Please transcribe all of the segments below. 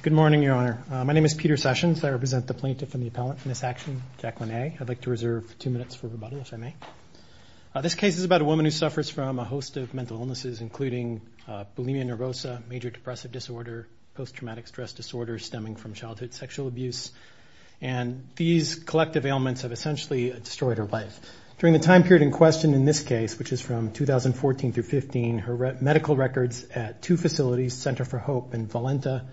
Good morning, Your Honor. My name is Peter Sessions. I represent the plaintiff and the appellant in this action, Jacqueline A. I'd like to reserve two minutes for rebuttal, if I may. This case is about a woman who suffers from a host of mental illnesses, including bulimia nervosa, major depressive disorder, post-traumatic stress disorder stemming from childhood sexual abuse, and these collective ailments have essentially destroyed her life. During the time period in question in this case, which is from 2014 through 2015, her disabilities, Center for Hope in Valenta,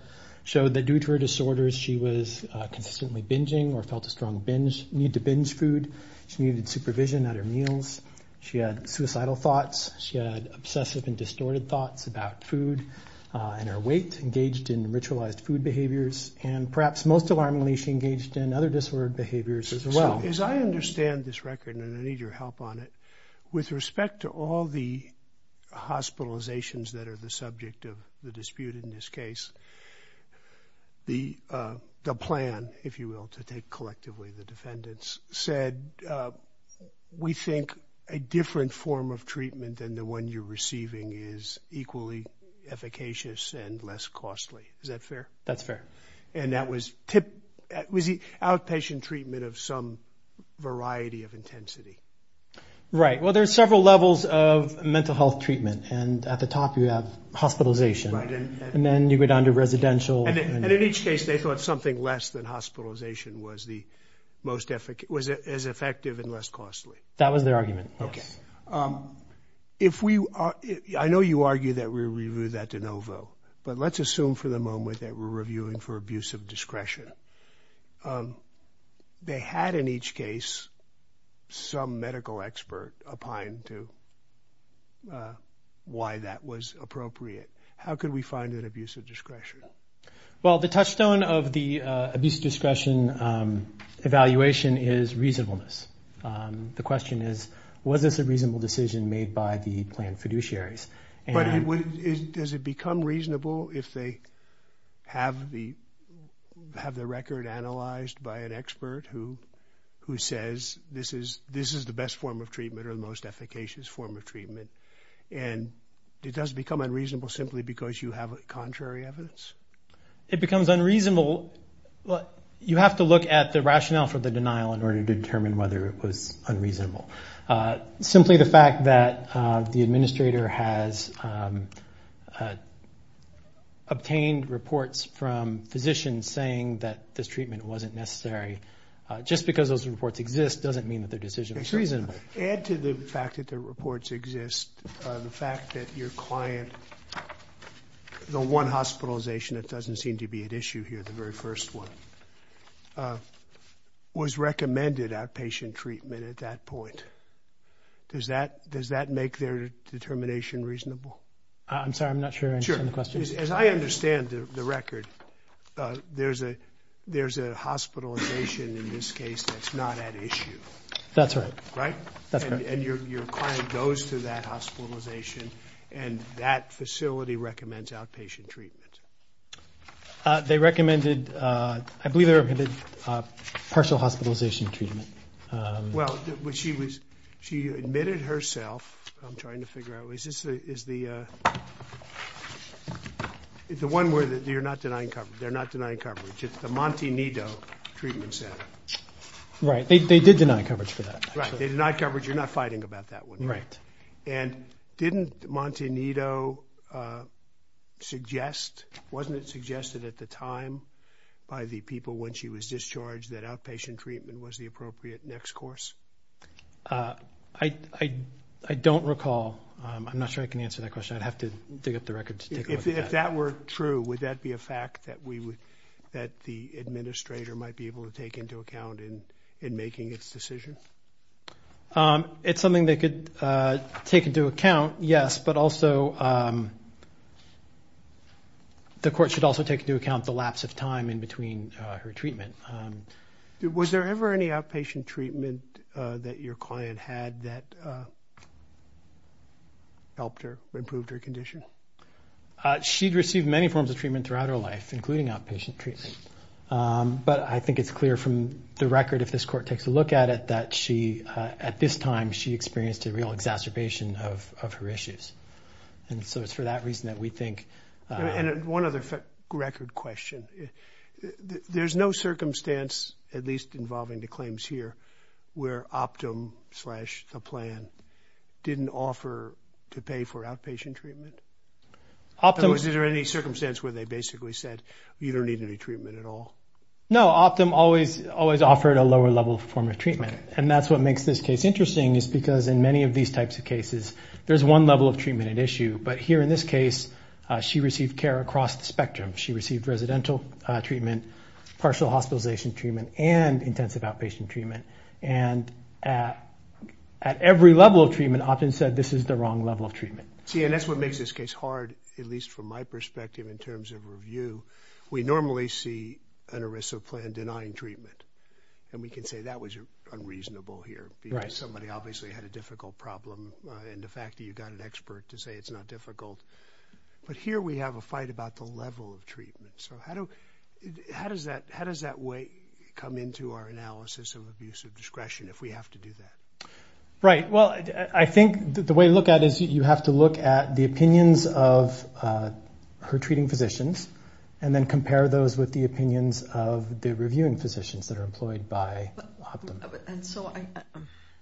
showed that due to her disorders she was consistently binging or felt a strong need to binge food. She needed supervision at her meals. She had suicidal thoughts. She had obsessive and distorted thoughts about food and her weight, engaged in ritualized food behaviors, and perhaps most alarmingly, she engaged in other disordered behaviors as well. So as I understand this record, and I need your help on it, with respect to all the hospitalizations that are the subject of the dispute in this case, the plan, if you will, to take collectively the defendants, said, we think a different form of treatment than the one you're receiving is equally efficacious and less costly. Is that fair? That's fair. And that was outpatient treatment of some variety of intensity. Right. Well, there's several levels of mental health treatment. And at the top you have hospitalization. And then you go down to residential. And in each case, they thought something less than hospitalization was the most, was as effective and less costly. That was their argument, yes. If we are, I know you argue that we review that de novo, but let's assume for the moment that we're reviewing for abuse of discretion. They had in each case some medical expert opined to why that was appropriate. How could we find that abuse of discretion? Well, the touchstone of the abuse of discretion evaluation is reasonableness. The question is, was this a reasonable decision made by the planned fiduciaries? But does it become reasonable if they have the record analyzed by an expert who says this is the best form of treatment or the most efficacious form of treatment? And it does become unreasonable simply because you have contrary evidence? It becomes unreasonable. You have to look at the rationale for the denial in order to have obtained reports from physicians saying that this treatment wasn't necessary. Just because those reports exist doesn't mean that their decision was reasonable. Add to the fact that the reports exist the fact that your client, the one hospitalization that doesn't seem to be at issue here, the very first one, was recommended outpatient treatment at that point. Does that make their determination reasonable? I'm sorry, I'm not sure I understand the question. As I understand the record, there's a hospitalization in this case that's not at issue. That's right. Right? That's correct. And your client goes to that hospitalization and that facility recommends outpatient treatment? They recommended, I believe they recommended partial hospitalization treatment. Well, she admitted herself, I'm trying to figure out, is this the one where you're not denying coverage? They're not denying coverage. It's the Montenito treatment center. Right. They did deny coverage for that. Right. They denied coverage. You're not fighting about that one. Right. And didn't Montenito suggest, wasn't it suggested at the time by the people when she was discharged that outpatient treatment was the appropriate next course? I don't recall. I'm not sure I can answer that question. I'd have to dig up the record to take a look at that. If that were true, would that be a fact that the administrator might be able to take into account in making its decision? It's something they could take into account, yes, but also the court should also take into account the lapse of time in between her treatment. Was there ever any outpatient treatment that your client had that helped her, improved her condition? She'd received many forms of treatment throughout her life, including outpatient treatment. But I think it's clear from the record, if this court takes a look at it, that she, at this time, she experienced a real exacerbation of her issues. And so it's for that reason that we think... One other record question. There's no circumstance, at least involving the claims here, where Optum slash the plan didn't offer to pay for outpatient treatment? Optum... No, Optum always offered a lower level form of treatment. And that's what makes this case interesting is because in many of these types of cases, there's one level of treatment at issue. But here in this case, she received care across the spectrum. She received residential treatment, partial hospitalization treatment, and intensive outpatient treatment. And at every level of treatment, Optum said, this is the wrong level of treatment. See, and that's what makes this case hard, at least from my perspective in terms of review. We normally see an ERISA plan denying treatment. And we can say that was unreasonable here because somebody obviously had a difficult problem. And the fact that you got an expert to say it's not difficult. But here we have a fight about the level of treatment. So how does that way come into our analysis of abuse of discretion if we have to do that? Right. Well, I think the way to look at it is you have to look at the opinions of her and then compare those with the opinions of the reviewing physicians that are employed by Optum. And so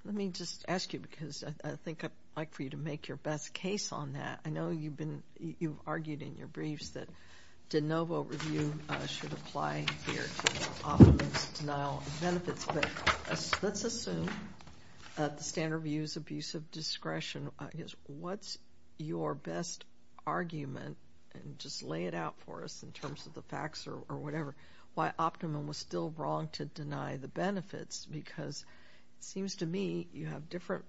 let me just ask you because I think I'd like for you to make your best case on that. I know you've been, you've argued in your briefs that de novo review should apply here to Optum's denial of benefits. But let's assume that the standard view is abuse of discretion in terms of the facts or whatever. Why Optum was still wrong to deny the benefits because it seems to me you have different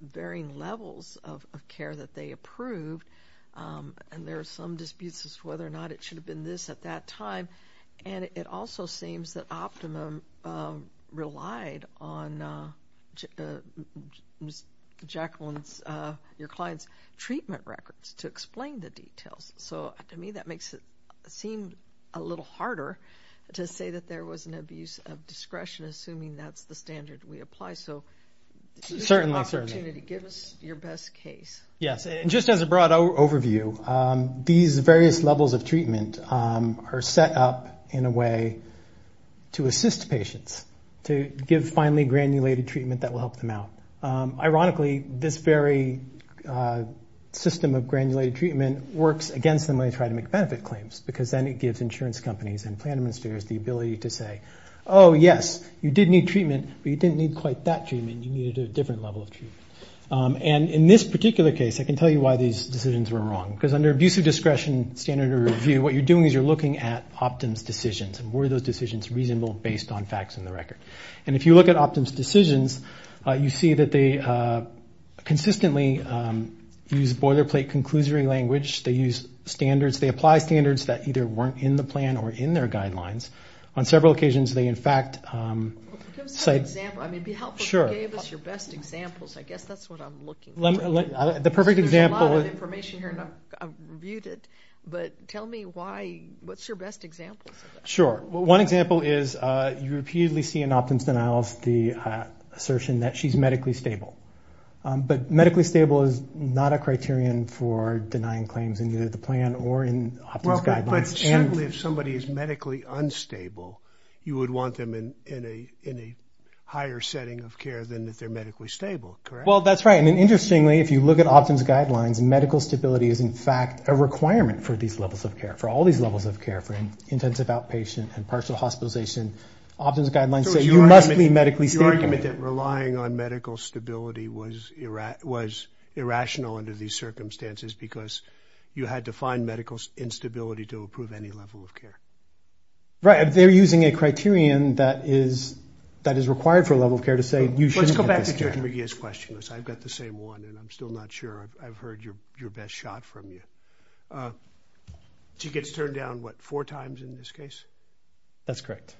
varying levels of care that they approved. And there are some disputes as to whether or not it should have been this at that time. And it also seems that Optum relied on Jacqueline's, your client's treatment records to explain the details. So to me that makes it seem a little harder to say that there was an abuse of discretion assuming that's the standard we apply. So give us your best case. Just as a broad overview, these various levels of treatment are set up in a way to assist patients to give finally granulated treatment that will help them out. Ironically, this very system of granulated treatment works against them when they try to make benefit claims because then it gives insurance companies and plan administrators the ability to say, oh yes, you did need treatment, but you didn't need quite that treatment. You needed a different level of treatment. And in this particular case, I can tell you why these decisions were wrong because under abuse of discretion standard of review, what you're doing is you're looking at Optum's decisions and were those decisions reasonable based on facts in the record. And if you look at Optum's decisions, you see that they consistently use boilerplate conclusory language. They use standards. They apply standards that either weren't in the plan or in their guidelines. On several occasions, they in fact cite... Well, give us an example. I mean, be helpful. Give us your best examples. I guess that's what I'm looking for. The perfect example... There's a lot of information here and I've reviewed it, but tell me why, what's your best example? Sure. One example is you repeatedly see in Optum's denials the assertion that she's medically stable. But medically stable is not a criterion for denying claims in either the plan or in Optum's guidelines. Well, but certainly if somebody is medically unstable, you would want them in a higher setting of care than if they're medically stable, correct? Well, that's right. And interestingly, if you look at Optum's guidelines, medical stability is in fact a requirement for these levels of care, for all these levels of care, for intensive outpatient and partial hospitalization. Optum's guidelines say you must be medically stable. So it's your argument that relying on medical stability was irrational under these circumstances because you had to find medical instability to approve any level of care? Right. They're using a criterion that is required for a level of care to say you shouldn't get this care. Let's go back to Judge McGee's question. I've got the same one and I'm still not sure. I've That's correct.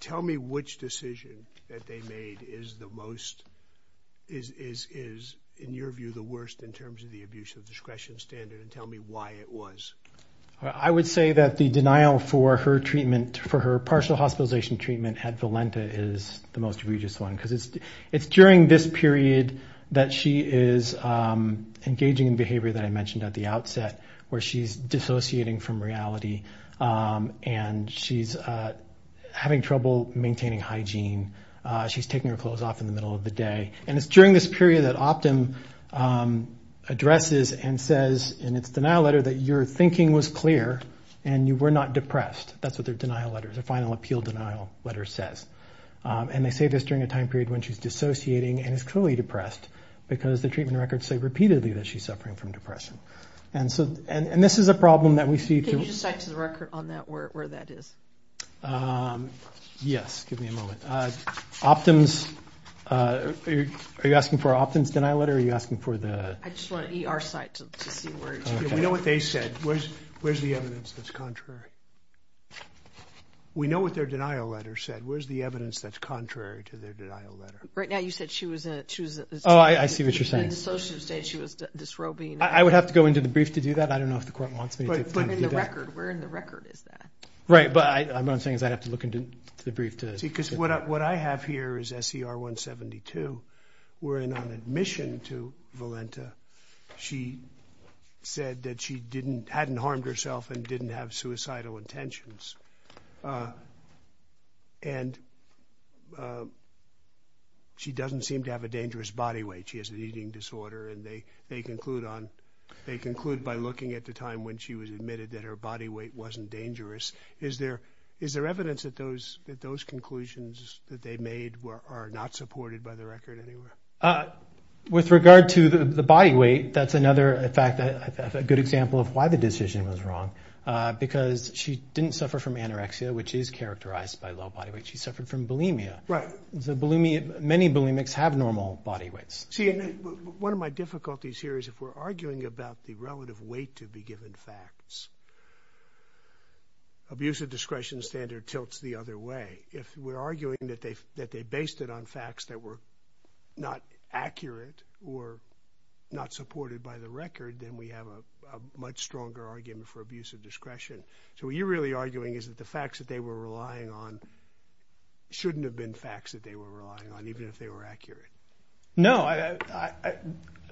Tell me which decision that they made is, in your view, the worst in terms of the abuse of discretion standard and tell me why it was. I would say that the denial for her partial hospitalization treatment at Valenta is the most egregious one because it's during this period that she is engaging in behavior that she's dissociating from reality and she's having trouble maintaining hygiene. She's taking her clothes off in the middle of the day and it's during this period that Optum addresses and says in its denial letter that your thinking was clear and you were not depressed. That's what their denial letter, their final appeal denial letter says. And they say this during a time period when she's dissociating and is clearly depressed because the treatment records say repeatedly that she's suffering from depression. And so, and this is a problem that we see. Can you just cite to the record on that where that is? Yes, give me a moment. Optum's, are you asking for Optum's denial letter or are you asking for the? I just want an ER site to see where it's going. We know what they said. Where's the evidence that's contrary? We know what their denial letter said. Where's the evidence that's contrary to their denial letter? Right now you said she was a, she was a. Oh, I see what you're saying. She was dissociative state, she was dysrhobine. I would have to go into the brief to do that. I don't know if the court wants me to. But in the record, where in the record is that? Right, but I, what I'm saying is I'd have to look into the brief to. See, because what I have here is SER 172. We're in on admission to Valenta. She said that she didn't, hadn't harmed herself and didn't have suicidal intentions. And she doesn't seem to have a dangerous body weight. She has an eating disorder and they, they conclude on, they conclude by looking at the time when she was admitted that her body weight wasn't dangerous. Is there, is there evidence that those, that those conclusions that they made were, are not supported by the record anywhere? With regard to the body weight, that's another, in fact, a good example of why the decision was wrong. Because she didn't suffer from anorexia, which is characterized by low body weight. She suffered from bulimia. Right. So bulimia, many bulimics have normal body weights. See, and one of my difficulties here is if we're arguing about the relative weight to be given facts, abusive discretion standard tilts the other way. If we're arguing that they, that they based it on facts that were not accurate or not supported by the record, then we have a much stronger argument for abusive discretion. So what you're really arguing is that the facts that they were relying on shouldn't have been facts that they were relying on, even if they were accurate. No, I, I, I,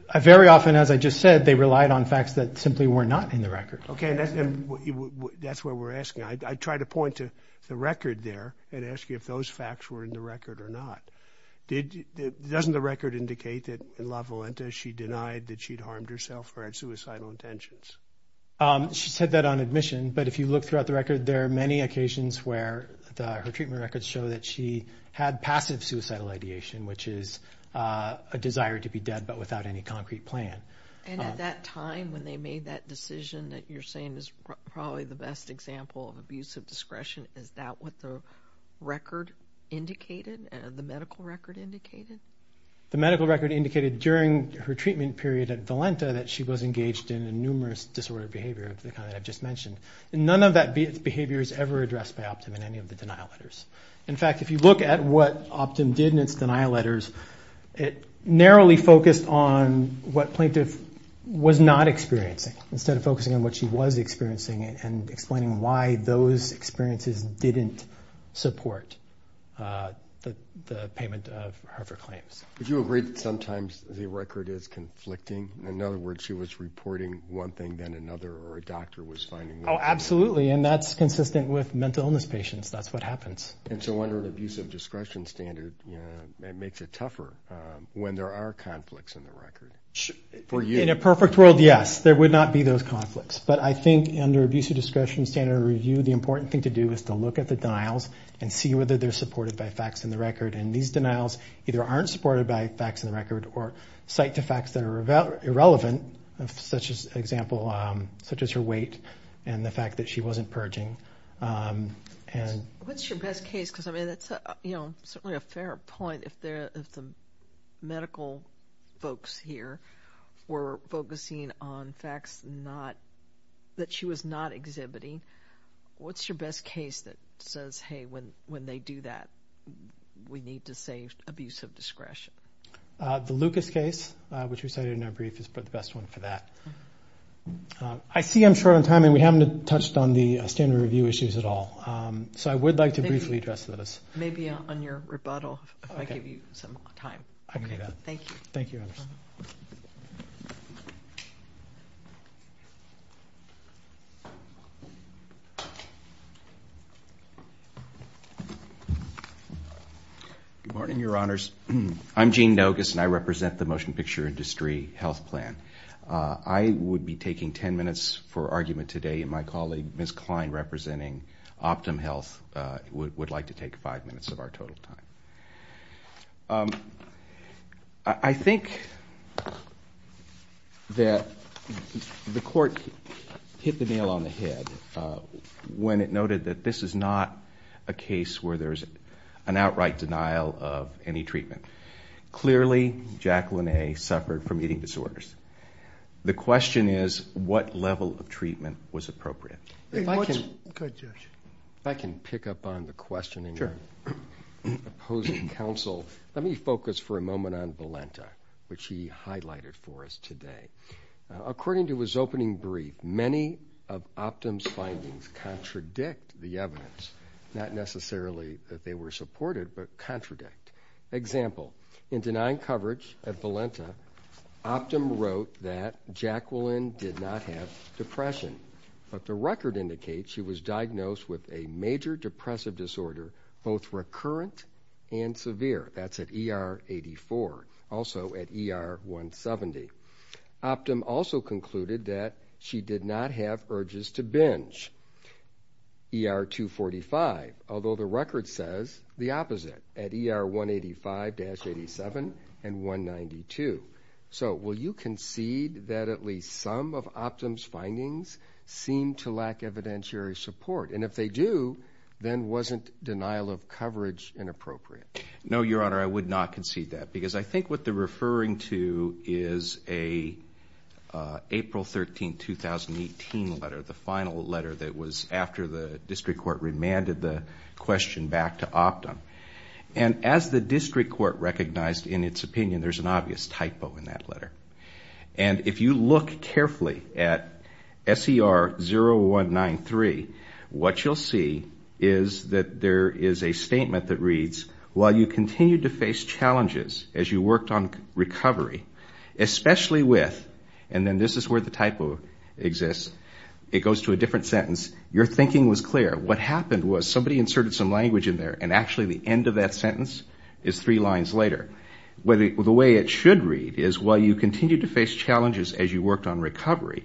I very often, as I just said, they relied on facts that simply were not in the record. Okay. And that's, that's where we're asking. I, I try to point to the record there and ask you if those facts were in the record or not. Did, doesn't the record indicate that in La Volenta she denied that she'd harmed herself or had suicidal intentions? She said that on admission. But if you look throughout the record, there are many occasions where the, her treatment records show that she had passive suicidal ideation, which is a desire to be dead, but without any concrete plan. And at that time when they made that decision that you're saying is probably the best example of abusive discretion, is that what the record indicated, the medical record indicated? The medical record indicated during her treatment period at Valenta that she was engaged in a numerous disordered behavior of the kind that I've just mentioned. And none of that behavior is ever addressed by Optum in any of the denial letters. In fact, if you look at what Optum did in its denial letters, it narrowly focused on what plaintiff was not experiencing, instead of focusing on what she was experiencing and explaining why those experiences didn't support the payment of her claims. Would you agree that sometimes the record is conflicting? In other words, she was reporting one thing, then another, or a doctor was finding. Oh, absolutely. And that's consistent with mental illness patients. That's what happens. And so under an abusive discretion standard, it makes it tougher when there are conflicts in the record. For you. In a perfect world, yes. There would not be those conflicts. But I think under abusive discretion standard review, the important thing to do is to look at the denials and see whether they're supported by facts in the record. And these denials either aren't supported by facts in the record or cite the facts that are irrelevant, such as her weight and the fact that she wasn't purging. What's your best case? Because, I mean, that's certainly a fair point. If the medical folks here were focusing on facts that she was not exhibiting, what's your best case that says, hey, when they do that, we need to save abusive discretion? The Lucas case, which we cited in our brief, is probably the best one for that. I see I'm short on time and we haven't touched on the standard review issues at all. So I would like to briefly address those. Maybe on your rebuttal, if I give you some time. I can do that. Thank you. Thank you. Good morning, Your Honors. I'm Gene Nogas and I represent the motion picture industry health plan. I would be taking 10 minutes for argument today and my colleague, Ms. Klein, representing Optum Health, would like to take five minutes of our total time. I think that the court hit the nail on the head when it noted that this is not a case where there's an outright denial of any treatment. Clearly, Jacqueline A suffered from eating disorders. The question is, what level of treatment was appropriate? If I can pick up on the question in your opposing counsel, let me focus for a moment on Valenta, which he highlighted for us today. According to his opening brief, many of Optum's findings contradict the evidence, not necessarily that they were supported, but contradict. Example, in denying coverage at Valenta, Optum wrote that Jacqueline did not have depression, but the record indicates she was diagnosed with a major depressive disorder, both recurrent and severe. That's at ER 84, also at ER 170. Optum also concluded that she did not have urges to binge. ER 245, although the record says the opposite, at ER 185-87 and 192. So, will you concede that at least some of Optum's findings seem to lack evidentiary support? And if they do, then wasn't denial of coverage inappropriate? No, Your Honor, I would not concede that. Because I think what they're referring to is an April 13, 2018 letter, the final letter that was after the district court remanded the question back to Optum. And as the district court recognized in its opinion, there's an obvious typo in that letter. And if you look carefully at SER 0193, what you'll see is that there is a statement that reads, while you continued to face challenges as you worked on recovery, especially with, and then this is where the typo exists, it goes to a different sentence, your thinking was clear, what happened was somebody inserted some language in there, and actually the end of that sentence is three lines later. The way it should read is, while you continued to face challenges as you worked on recovery,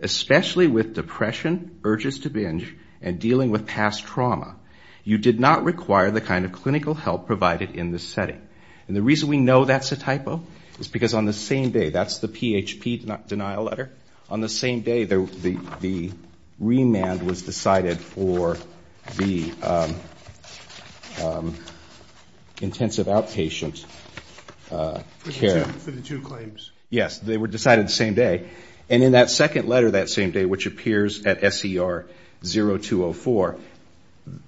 especially with depression, urges to binge, and dealing with past trauma, you did not require the kind of clinical help provided in this setting. And the reason we know that's a typo is because on the same day, that's the PHP denial letter, on the same day the remand was decided for the intensive outpatient care. For the two claims? Yes, they were decided the same day. And in that second letter that same day, which appears at SER 0204,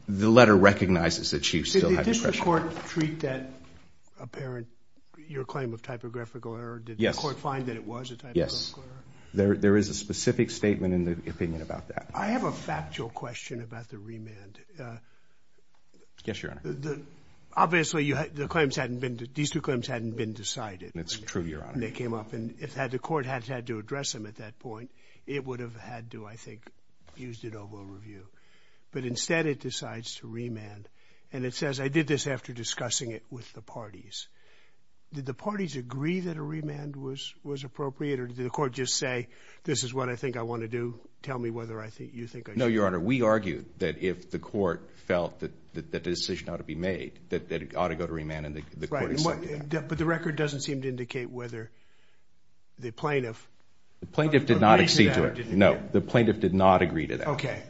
the letter recognizes that she still had depression. Did the district court treat that apparent, your claim of typographical error? Did the court find that it was a typographical error? Yes, there is a specific statement in the opinion about that. I have a factual question about the remand. Yes, Your Honor. Obviously, the claims hadn't been, these two claims hadn't been decided. It's true, Your Honor. And they came up, and if the court had had to address them at that point, it would have had to, I think, used it over a review. But instead, it decides to remand, and it says, I did this after discussing it with the parties. Did the parties agree that a remand was appropriate, or did the court just say, this is what I think I want to do, tell me whether you think I should? No, Your Honor. We argued that if the court felt that the decision ought to be made, that it ought to go to remand, and the court accepted that. But the record doesn't seem to indicate whether the plaintiff agreed to that or didn't agree to that. No, the plaintiff did not agree to that. Okay.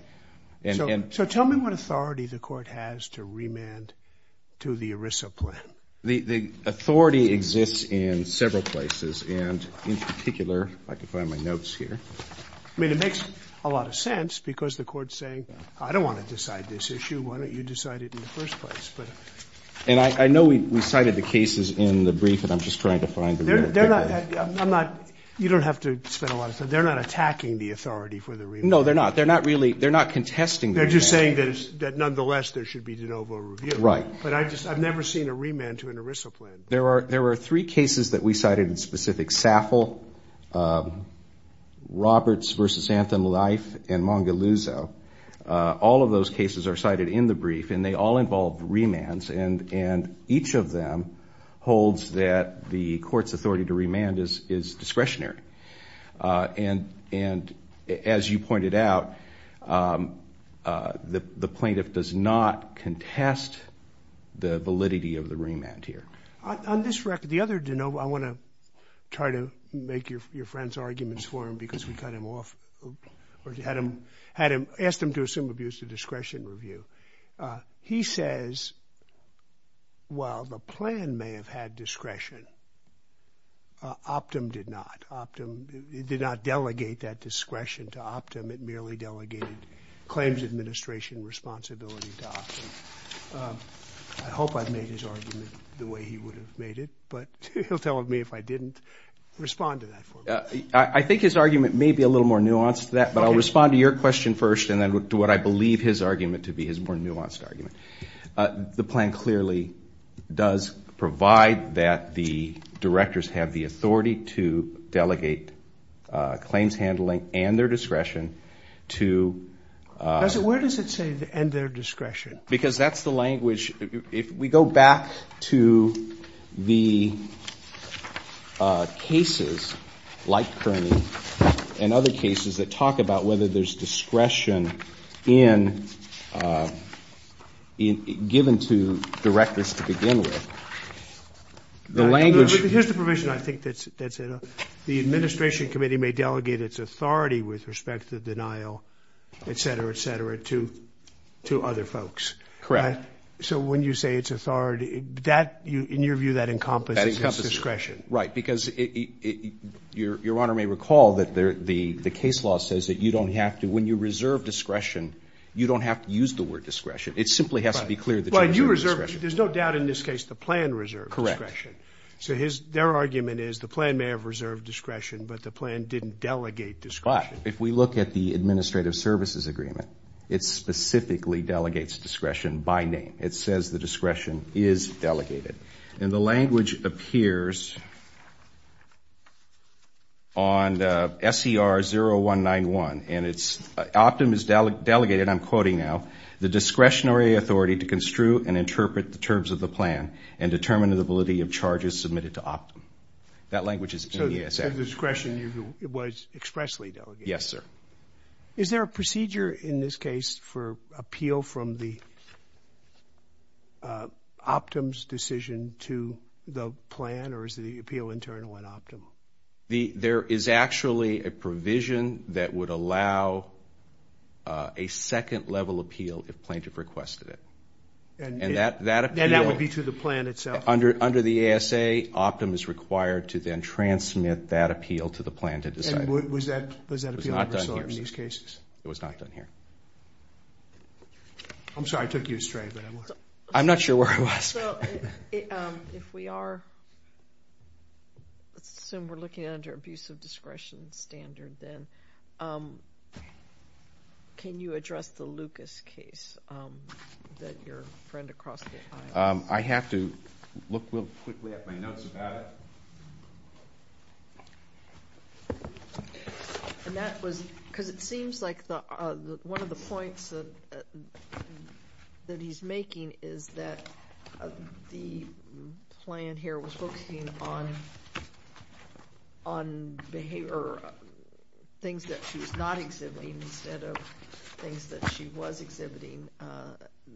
So tell me what authority the court has to remand to the ERISA plan. The authority exists in several places, and in particular, if I can find my notes here. I mean, it makes a lot of sense, because the court's saying, I don't want to decide this issue. Why don't you decide it in the first place? And I know we cited the cases in the brief, and I'm just trying to find the real picture. They're not, I'm not, you don't have to spend a lot of time. They're not attacking the authority for the remand. No, they're not. They're not really, they're not contesting the remand. They're just saying that nonetheless, there should be de novo review. Right. But I've never seen a remand to an ERISA plan. There were three cases that we cited in specific. SAFL, Roberts v. Anthem Life, and Mongaluzzo. All of those cases are cited in the brief, and they all involve remands, and each of them holds that the court's authority to remand is discretionary. And as you pointed out, the plaintiff does not contest the validity of the remand here. On this record, the other de novo, I want to try to make your friend's arguments for him because we cut him off, or had him, had him, asked him to assume abuse of discretion review, he says, while the plan may have had discretion, Optum did not. Optum, it did not delegate that discretion to Optum. It merely delegated claims administration responsibility to Optum. I hope I've made his argument the way he would have made it, but he'll tell me if I didn't, respond to that for me. I think his argument may be a little more nuanced than that, but I'll respond to your question first, and then to what I believe his argument to be his more nuanced argument. The plan clearly does provide that the directors have the authority to delegate claims handling and their discretion to. Where does it say, and their discretion? Because that's the language. If we go back to the cases like Kearney and other cases that talk about whether there's discretion in, given to directors to begin with, the language. Here's the provision I think that's in, the administration committee may delegate its authority with respect to the denial, et cetera, et cetera, to, to other folks. Correct. So when you say it's authority, that, in your view, that encompasses discretion. Right. Because it, it, it, your, your honor may recall that the, the, the case law says that you don't have to, when you reserve discretion, you don't have to use the word discretion, it simply has to be clear that you reserve discretion. There's no doubt in this case, the plan reserved discretion. So his, their argument is the plan may have reserved discretion, but the plan didn't delegate discretion. If we look at the administrative services agreement, it specifically delegates discretion by name. It says the discretion is delegated. And the language appears on SCR 0191 and it's, Optum is delegated. I'm quoting now, the discretionary authority to construe and interpret the terms of the plan and determine the validity of charges submitted to Optum. That language is in ESF. So the discretion, it was expressly delegated. Yes, sir. Is there a procedure in this case for appeal from the Optum's decision to the plan or is it the appeal internal at Optum? The, there is actually a provision that would allow a second level appeal if plaintiff requested it. And that, that appeal. And that would be to the plan itself? Under, under the ASA, Optum is required to then transmit that appeal to the plan to decide. Was that, was that appeal in these cases? It was not done here. I'm sorry, I took you astray. I'm not sure where I was. So if we are, let's assume we're looking at under abusive discretion standard then, can you address the Lucas case that your friend across the aisle? I have to look real quickly at my notes about it. And that was, because it seems like the, one of the points that, that he's making is that the plan here was focusing on, on behavior, things that she was not exhibiting instead of things that she was exhibiting,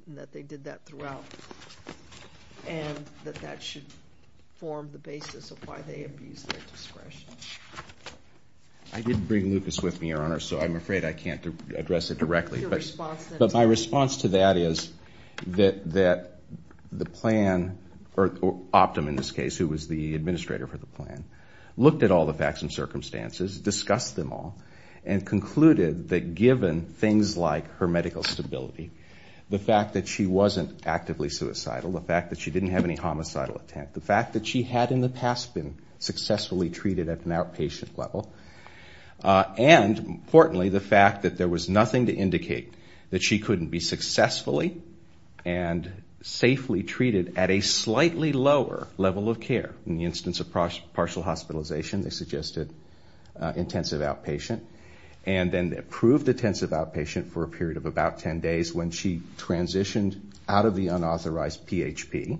that they did that throughout, and that that should form the basis of why they abused their discretion. I did bring Lucas with me, Your Honor. So I'm afraid I can't address it directly, but my response to that is that, that the plan, or Optum in this case, who was the administrator for the plan, looked at all the facts and circumstances, discussed them all, and concluded that given things like her medical stability, the fact that she wasn't actively suicidal, the fact that she didn't have any homicidal intent, the fact that she had in the past been successfully treated at an outpatient level, and importantly, the fact that there was nothing to indicate that she couldn't be successfully and safely treated at a slightly lower level of care, in the instance of partial hospitalization, they suggested intensive outpatient, and then approved intensive outpatient for a period of about 10 days when she transitioned out of the unauthorized PHP,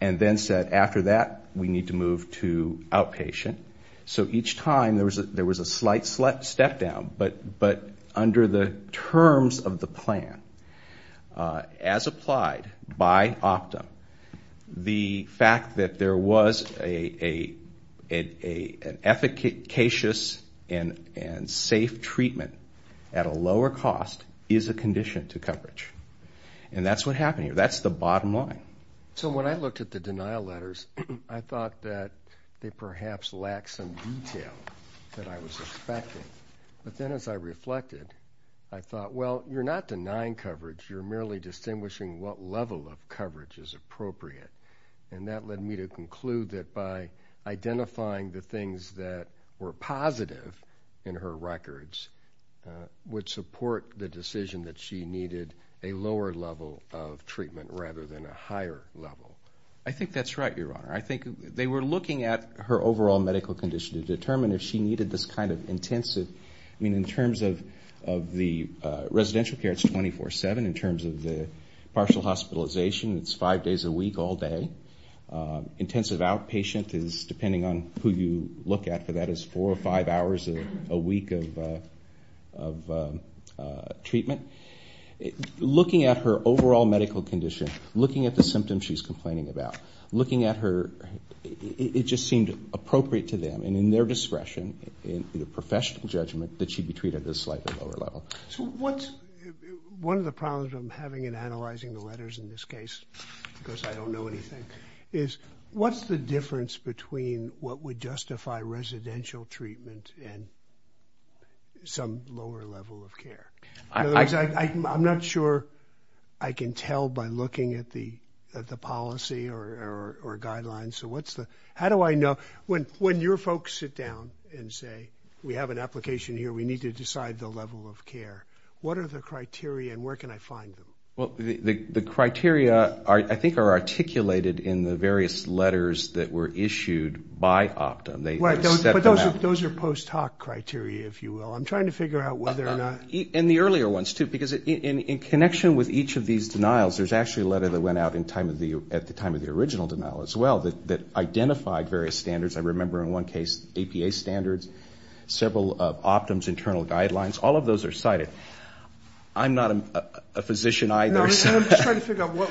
and then said, after that, we need to move to outpatient, so each time, there was a slight step down, but under the terms of the plan, as applied by Optum, the fact that there was an efficacious and safe treatment at a lower cost is a condition to coverage, and that's what happened here. That's the bottom line. So when I looked at the denial letters, I thought that they perhaps lacked some detail that I was expecting, but then as I reflected, I thought, well, you're not denying coverage, you're merely distinguishing what level of coverage is appropriate, and that led me to conclude that by identifying the things that were positive in her records would support the decision that she needed a lower level of treatment rather than a higher level. I think that's right, Your Honor. I think they were looking at her overall medical condition to determine if she needed this kind of intensive, I mean, in terms of the residential care, it's 24-7, in terms of the partial hospitalization, it's five days a week, all day. Intensive outpatient is, depending on who you look at for that, is four or five hours a week of treatment. Looking at her overall medical condition, looking at the symptoms she's complaining about, looking at her, it just seemed appropriate to them and in their discretion, in a professional judgment, that she'd be treated at a slightly lower level. So what's one of the problems I'm having in analyzing the letters in this case, because I don't know anything, is what's the difference between what would justify residential treatment and some lower level of care? In other words, I'm not sure I can tell by looking at the policy or guidelines, so what's the, how do I know, when your folks sit down and say, we have an application here, we need to decide the level of care, what are the criteria and where can I find them? Well, the criteria, I think, are articulated in the various letters that were issued by Optum. They stepped them out. Those are post hoc criteria, if you will. I'm trying to figure out whether or not. And the earlier ones too, because in connection with each of these denials, there's actually a letter that went out at the time of the original denial as well, that identified various standards. I remember in one case, APA standards, several Optum's internal guidelines, all of those are cited. I'm not a physician either. I'm just trying to figure out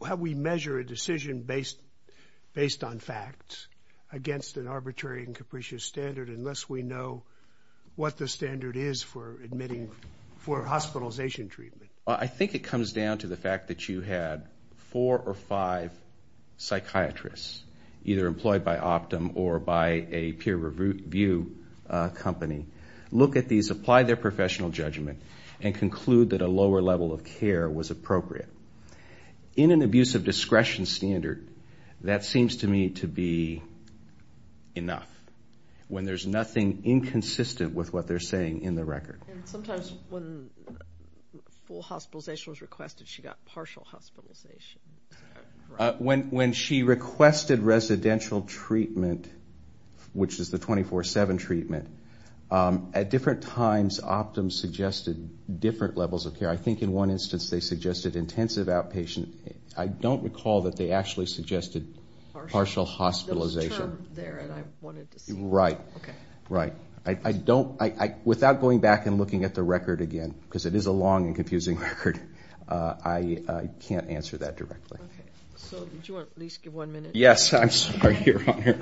how we measure a decision based on facts against an arbitrary and capricious standard, unless we know what the standard is for hospitalization treatment. I think it comes down to the fact that you had four or five psychiatrists, either employed by Optum or by a peer review company, look at these, apply their professional judgment and conclude that a lower level of care was appropriate. In an abuse of discretion standard, that seems to me to be enough, when there's nothing inconsistent with what they're saying in the record. Sometimes when full hospitalization was requested, she got partial hospitalization. When she requested residential treatment, which is the 24-7 treatment, at different times, Optum suggested different levels of care. I think in one instance, they suggested intensive outpatient. I don't recall that they actually suggested partial hospitalization. There was a term there that I wanted to see. Right, right. Without going back and looking at the record again, because it is a long and confusing record, I can't answer that directly. Okay, so did you want to at least give one minute? Yes, I'm sorry. You're on here.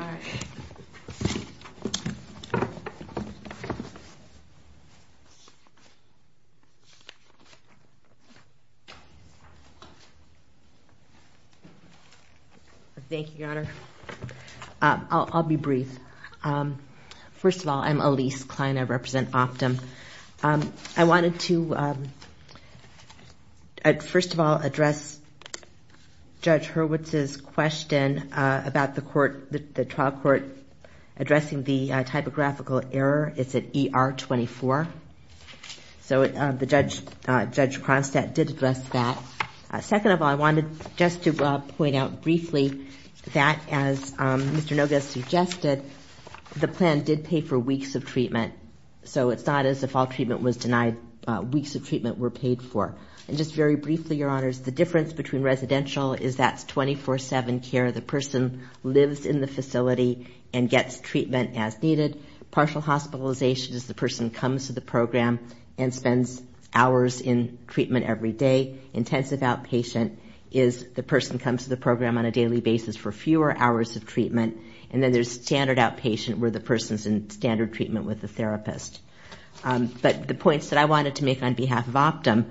Thank you, Your Honor. I'll be brief. First of all, I'm Elise Kleiner, I represent Optum. I wanted to, first of all, address Judge Hurwitz's question about the trial court addressing the typographical error. It's at ER 24. So Judge Cronstadt did address that. Second of all, I wanted just to point out briefly that as Mr. The plan did pay for weeks of treatment, so it's not as if all treatment was denied, weeks of treatment were paid for. And just very briefly, Your Honors, the difference between residential is that's 24-7 care, the person lives in the facility and gets treatment as needed. Partial hospitalization is the person comes to the program and spends hours in treatment every day. Intensive outpatient is the person comes to the program on a daily basis for fewer hours of treatment. And then there's standard outpatient where the person's in standard treatment with the therapist. But the points that I wanted to make on behalf of Optum,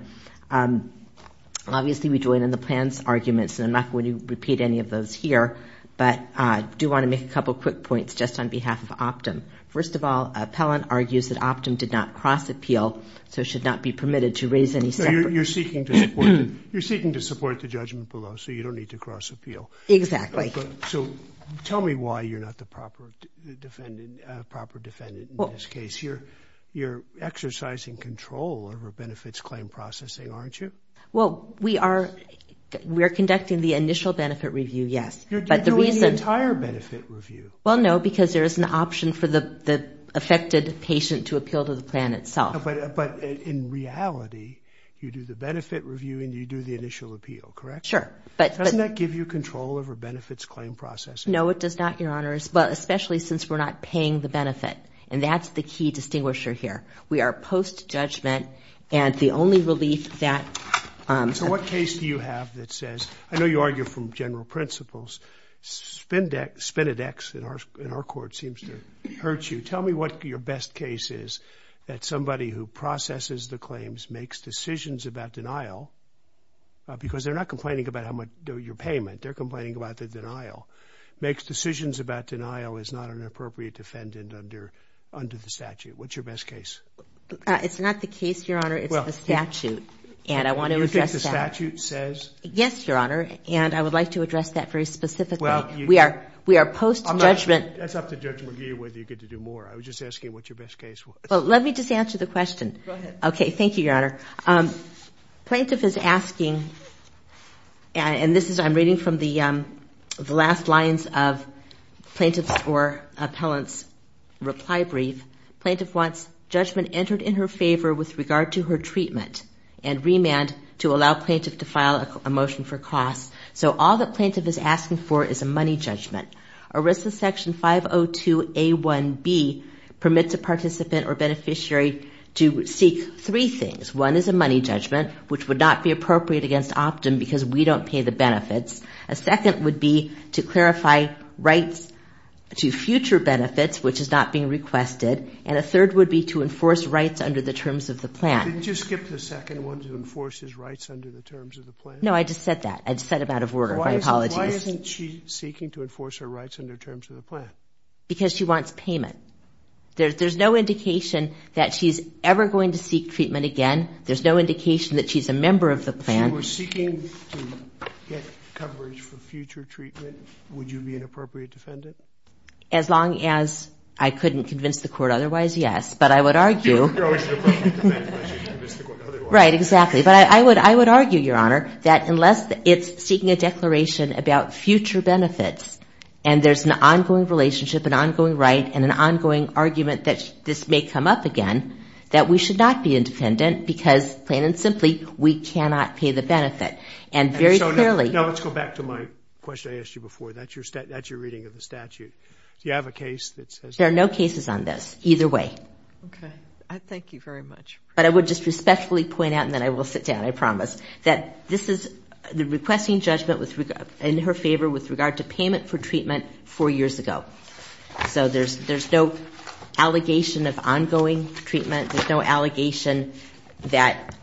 obviously we join in the plan's arguments, and I'm not going to repeat any of those here, but I do want to make a couple of quick points just on behalf of Optum. First of all, appellant argues that Optum did not cross appeal, so it should not be permitted to raise any separate... You're seeking to support the judgment below, so you don't need to cross appeal. Exactly. So tell me why you're not the proper defendant in this case. You're exercising control over benefits claim processing, aren't you? Well, we are conducting the initial benefit review, yes. You're doing the entire benefit review. Well, no, because there is an option for the affected patient to appeal to the plan itself. But in reality, you do the benefit review and you do the initial appeal, correct? Sure. Doesn't that give you control over benefits claim processing? No, it does not, Your Honors, but especially since we're not paying the benefit, and that's the key distinguisher here. We are post-judgment and the only relief that... So what case do you have that says, I know you argue from general principles, Spindex, in our court, seems to hurt you. Tell me what your best case is that somebody who processes the claims makes decisions about denial, because they're not complaining about how much your payment, they're complaining about the denial, makes decisions about denial as not an appropriate defendant under the statute. What's your best case? It's not the case, Your Honor. It's the statute, and I want to address that. You think the statute says? Yes, Your Honor, and I would like to address that very specifically. We are post-judgment. That's up to Judge McGee whether you get to do more. I was just asking what your best case was. Well, let me just answer the question. Go ahead. Okay. Thank you, Your Honor. Plaintiff is asking, and this is... I'm reading from the last lines of plaintiff's or appellant's reply brief. Plaintiff wants judgment entered in her favor with regard to her treatment and remand to allow plaintiff to file a motion for costs. So all that plaintiff is asking for is a money judgment. ERISA section 502A1B permits a participant or beneficiary to seek three things. One is a money judgment, which would not be appropriate against Optum because we don't pay the benefits. A second would be to clarify rights to future benefits, which is not being requested, and a third would be to enforce rights under the terms of the plan. Didn't you skip the second one to enforce his rights under the terms of the plan? No, I just said that. I just said it out of order. My apologies. Why isn't she seeking to enforce her rights under terms of the plan? Because she wants payment. There's no indication that she's ever going to seek treatment again. There's no indication that she's a member of the plan. If she was seeking to get coverage for future treatment, would you be an appropriate defendant? As long as I couldn't convince the court otherwise, yes. But I would argue... Right, exactly. But I would argue, Your Honor, that unless it's seeking a declaration about future benefits, and there's an ongoing relationship, an ongoing right, and an ongoing argument that this may come up again, that we should not be independent because, plain and simply, we cannot pay the benefit. And very clearly... Now, let's go back to my question I asked you before. That's your reading of the statute. Do you have a case that says... There are no cases on this, either way. Okay. I thank you very much. But I would just respectfully point out, and then I will sit down, I promise, that this is the requesting judgment in her favor with regard to payment for treatment four years ago. So there's no allegation of ongoing treatment. There's no allegation that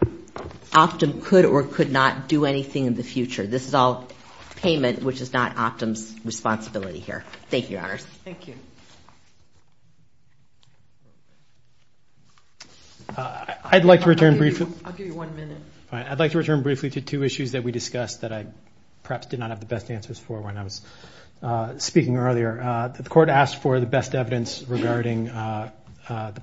Optum could or could not do anything in the future. This is all payment, which is not Optum's responsibility here. Thank you, Your Honors. Thank you. I'd like to return briefly... I'll give you one minute. I'd like to return briefly to two issues that we discussed that I perhaps did not have the best answers for when I was speaking earlier. The court asked for the best evidence regarding the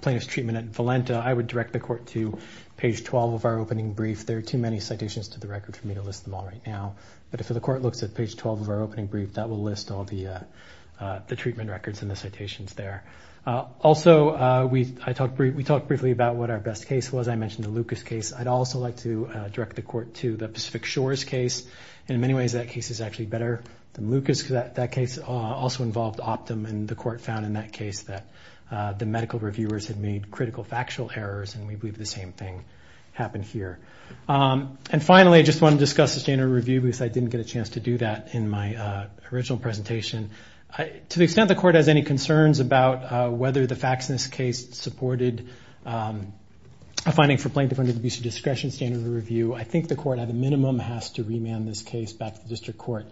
plaintiff's treatment at Valenta. I would direct the court to page 12 of our opening brief. There are too many citations to the record for me to list them all right now. But if the court looks at page 12 of our opening brief, that will list all the treatment records and the citations there. Also, we talked briefly about what our best case was. I mentioned the Lucas case. I'd also like to direct the court to the Pacific Shores case. In many ways, that case is actually better than Lucas because that case also involved Optum, and the court found in that case that the medical reviewers had made critical factual errors, and we believe the same thing happened here. And finally, I just want to discuss the standard review because I didn't get a chance to do that in my original presentation. To the extent the court has any concerns about whether the facts in this case supported a finding for plaintiff under the abuse of discretion standard review, I think the court, at a minimum, has to remand this case back to the district court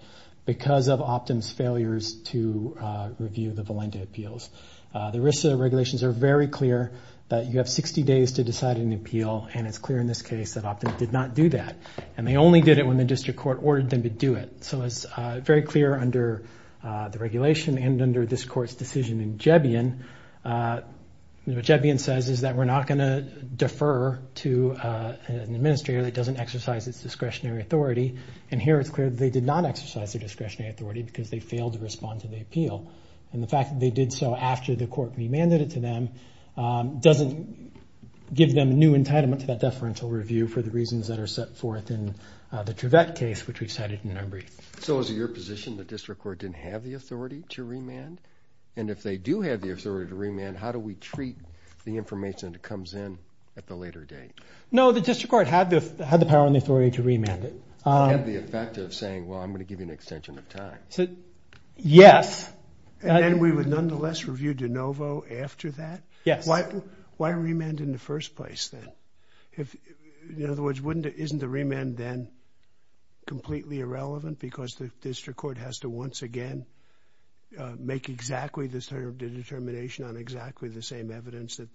because of Optum's failures to review the Valenta appeals. The RISA regulations are very clear that you have 60 days to decide an appeal, and it's clear in this case that Optum did not do that, and they only did it when the district court ordered them to do it. So it's very clear under the regulation and under this court's decision in what Jebbien says is that we're not going to defer to an administrator that doesn't exercise its discretionary authority, and here it's clear that they did not exercise their discretionary authority because they failed to respond to the appeal, and the fact that they did so after the court remanded it to them doesn't give them a new entitlement to that deferential review for the reasons that are set forth in the Trevette case, which we cited in our brief. So is it your position the district court didn't have the authority to remand? And if they do have the authority to remand, how do we treat the information that comes in at the later date? No, the district court had the power and the authority to remand it. It had the effect of saying, well, I'm going to give you an extension of time. Yes. And then we would nonetheless review de novo after that? Yes. Why remand in the first place then? In other words, isn't the remand then completely irrelevant because the district court has exactly the determination on exactly the same evidence that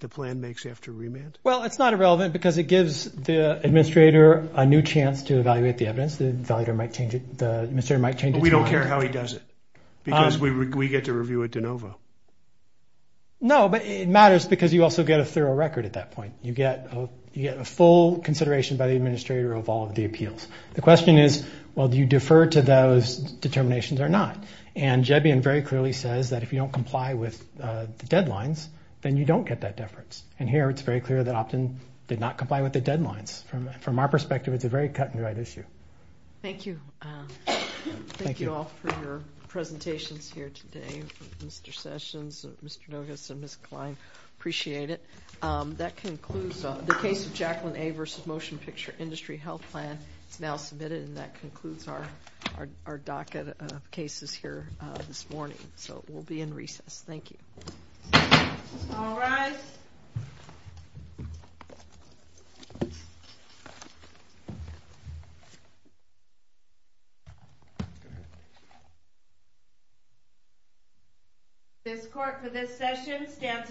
the plan makes after remand? Well, it's not irrelevant because it gives the administrator a new chance to evaluate the evidence. The administrator might change its mind. But we don't care how he does it because we get to review it de novo. No, but it matters because you also get a thorough record at that point. You get a full consideration by the administrator of all of the appeals. The question is, well, do you defer to those determinations or not? And Jebbian very clearly says that if you don't comply with the deadlines, then you don't get that deference. And here it's very clear that Optin did not comply with the deadlines. From our perspective, it's a very cut and dried issue. Thank you. Thank you all for your presentations here today. Mr. Sessions, Mr. Nogas and Ms. Klein, appreciate it. That concludes the case of Jacqueline A. versus Motion Picture Industry Health Plan. It's now submitted and that concludes our docket of cases here this morning. So we'll be in recess. Thank you. This court for this session stands adjourned.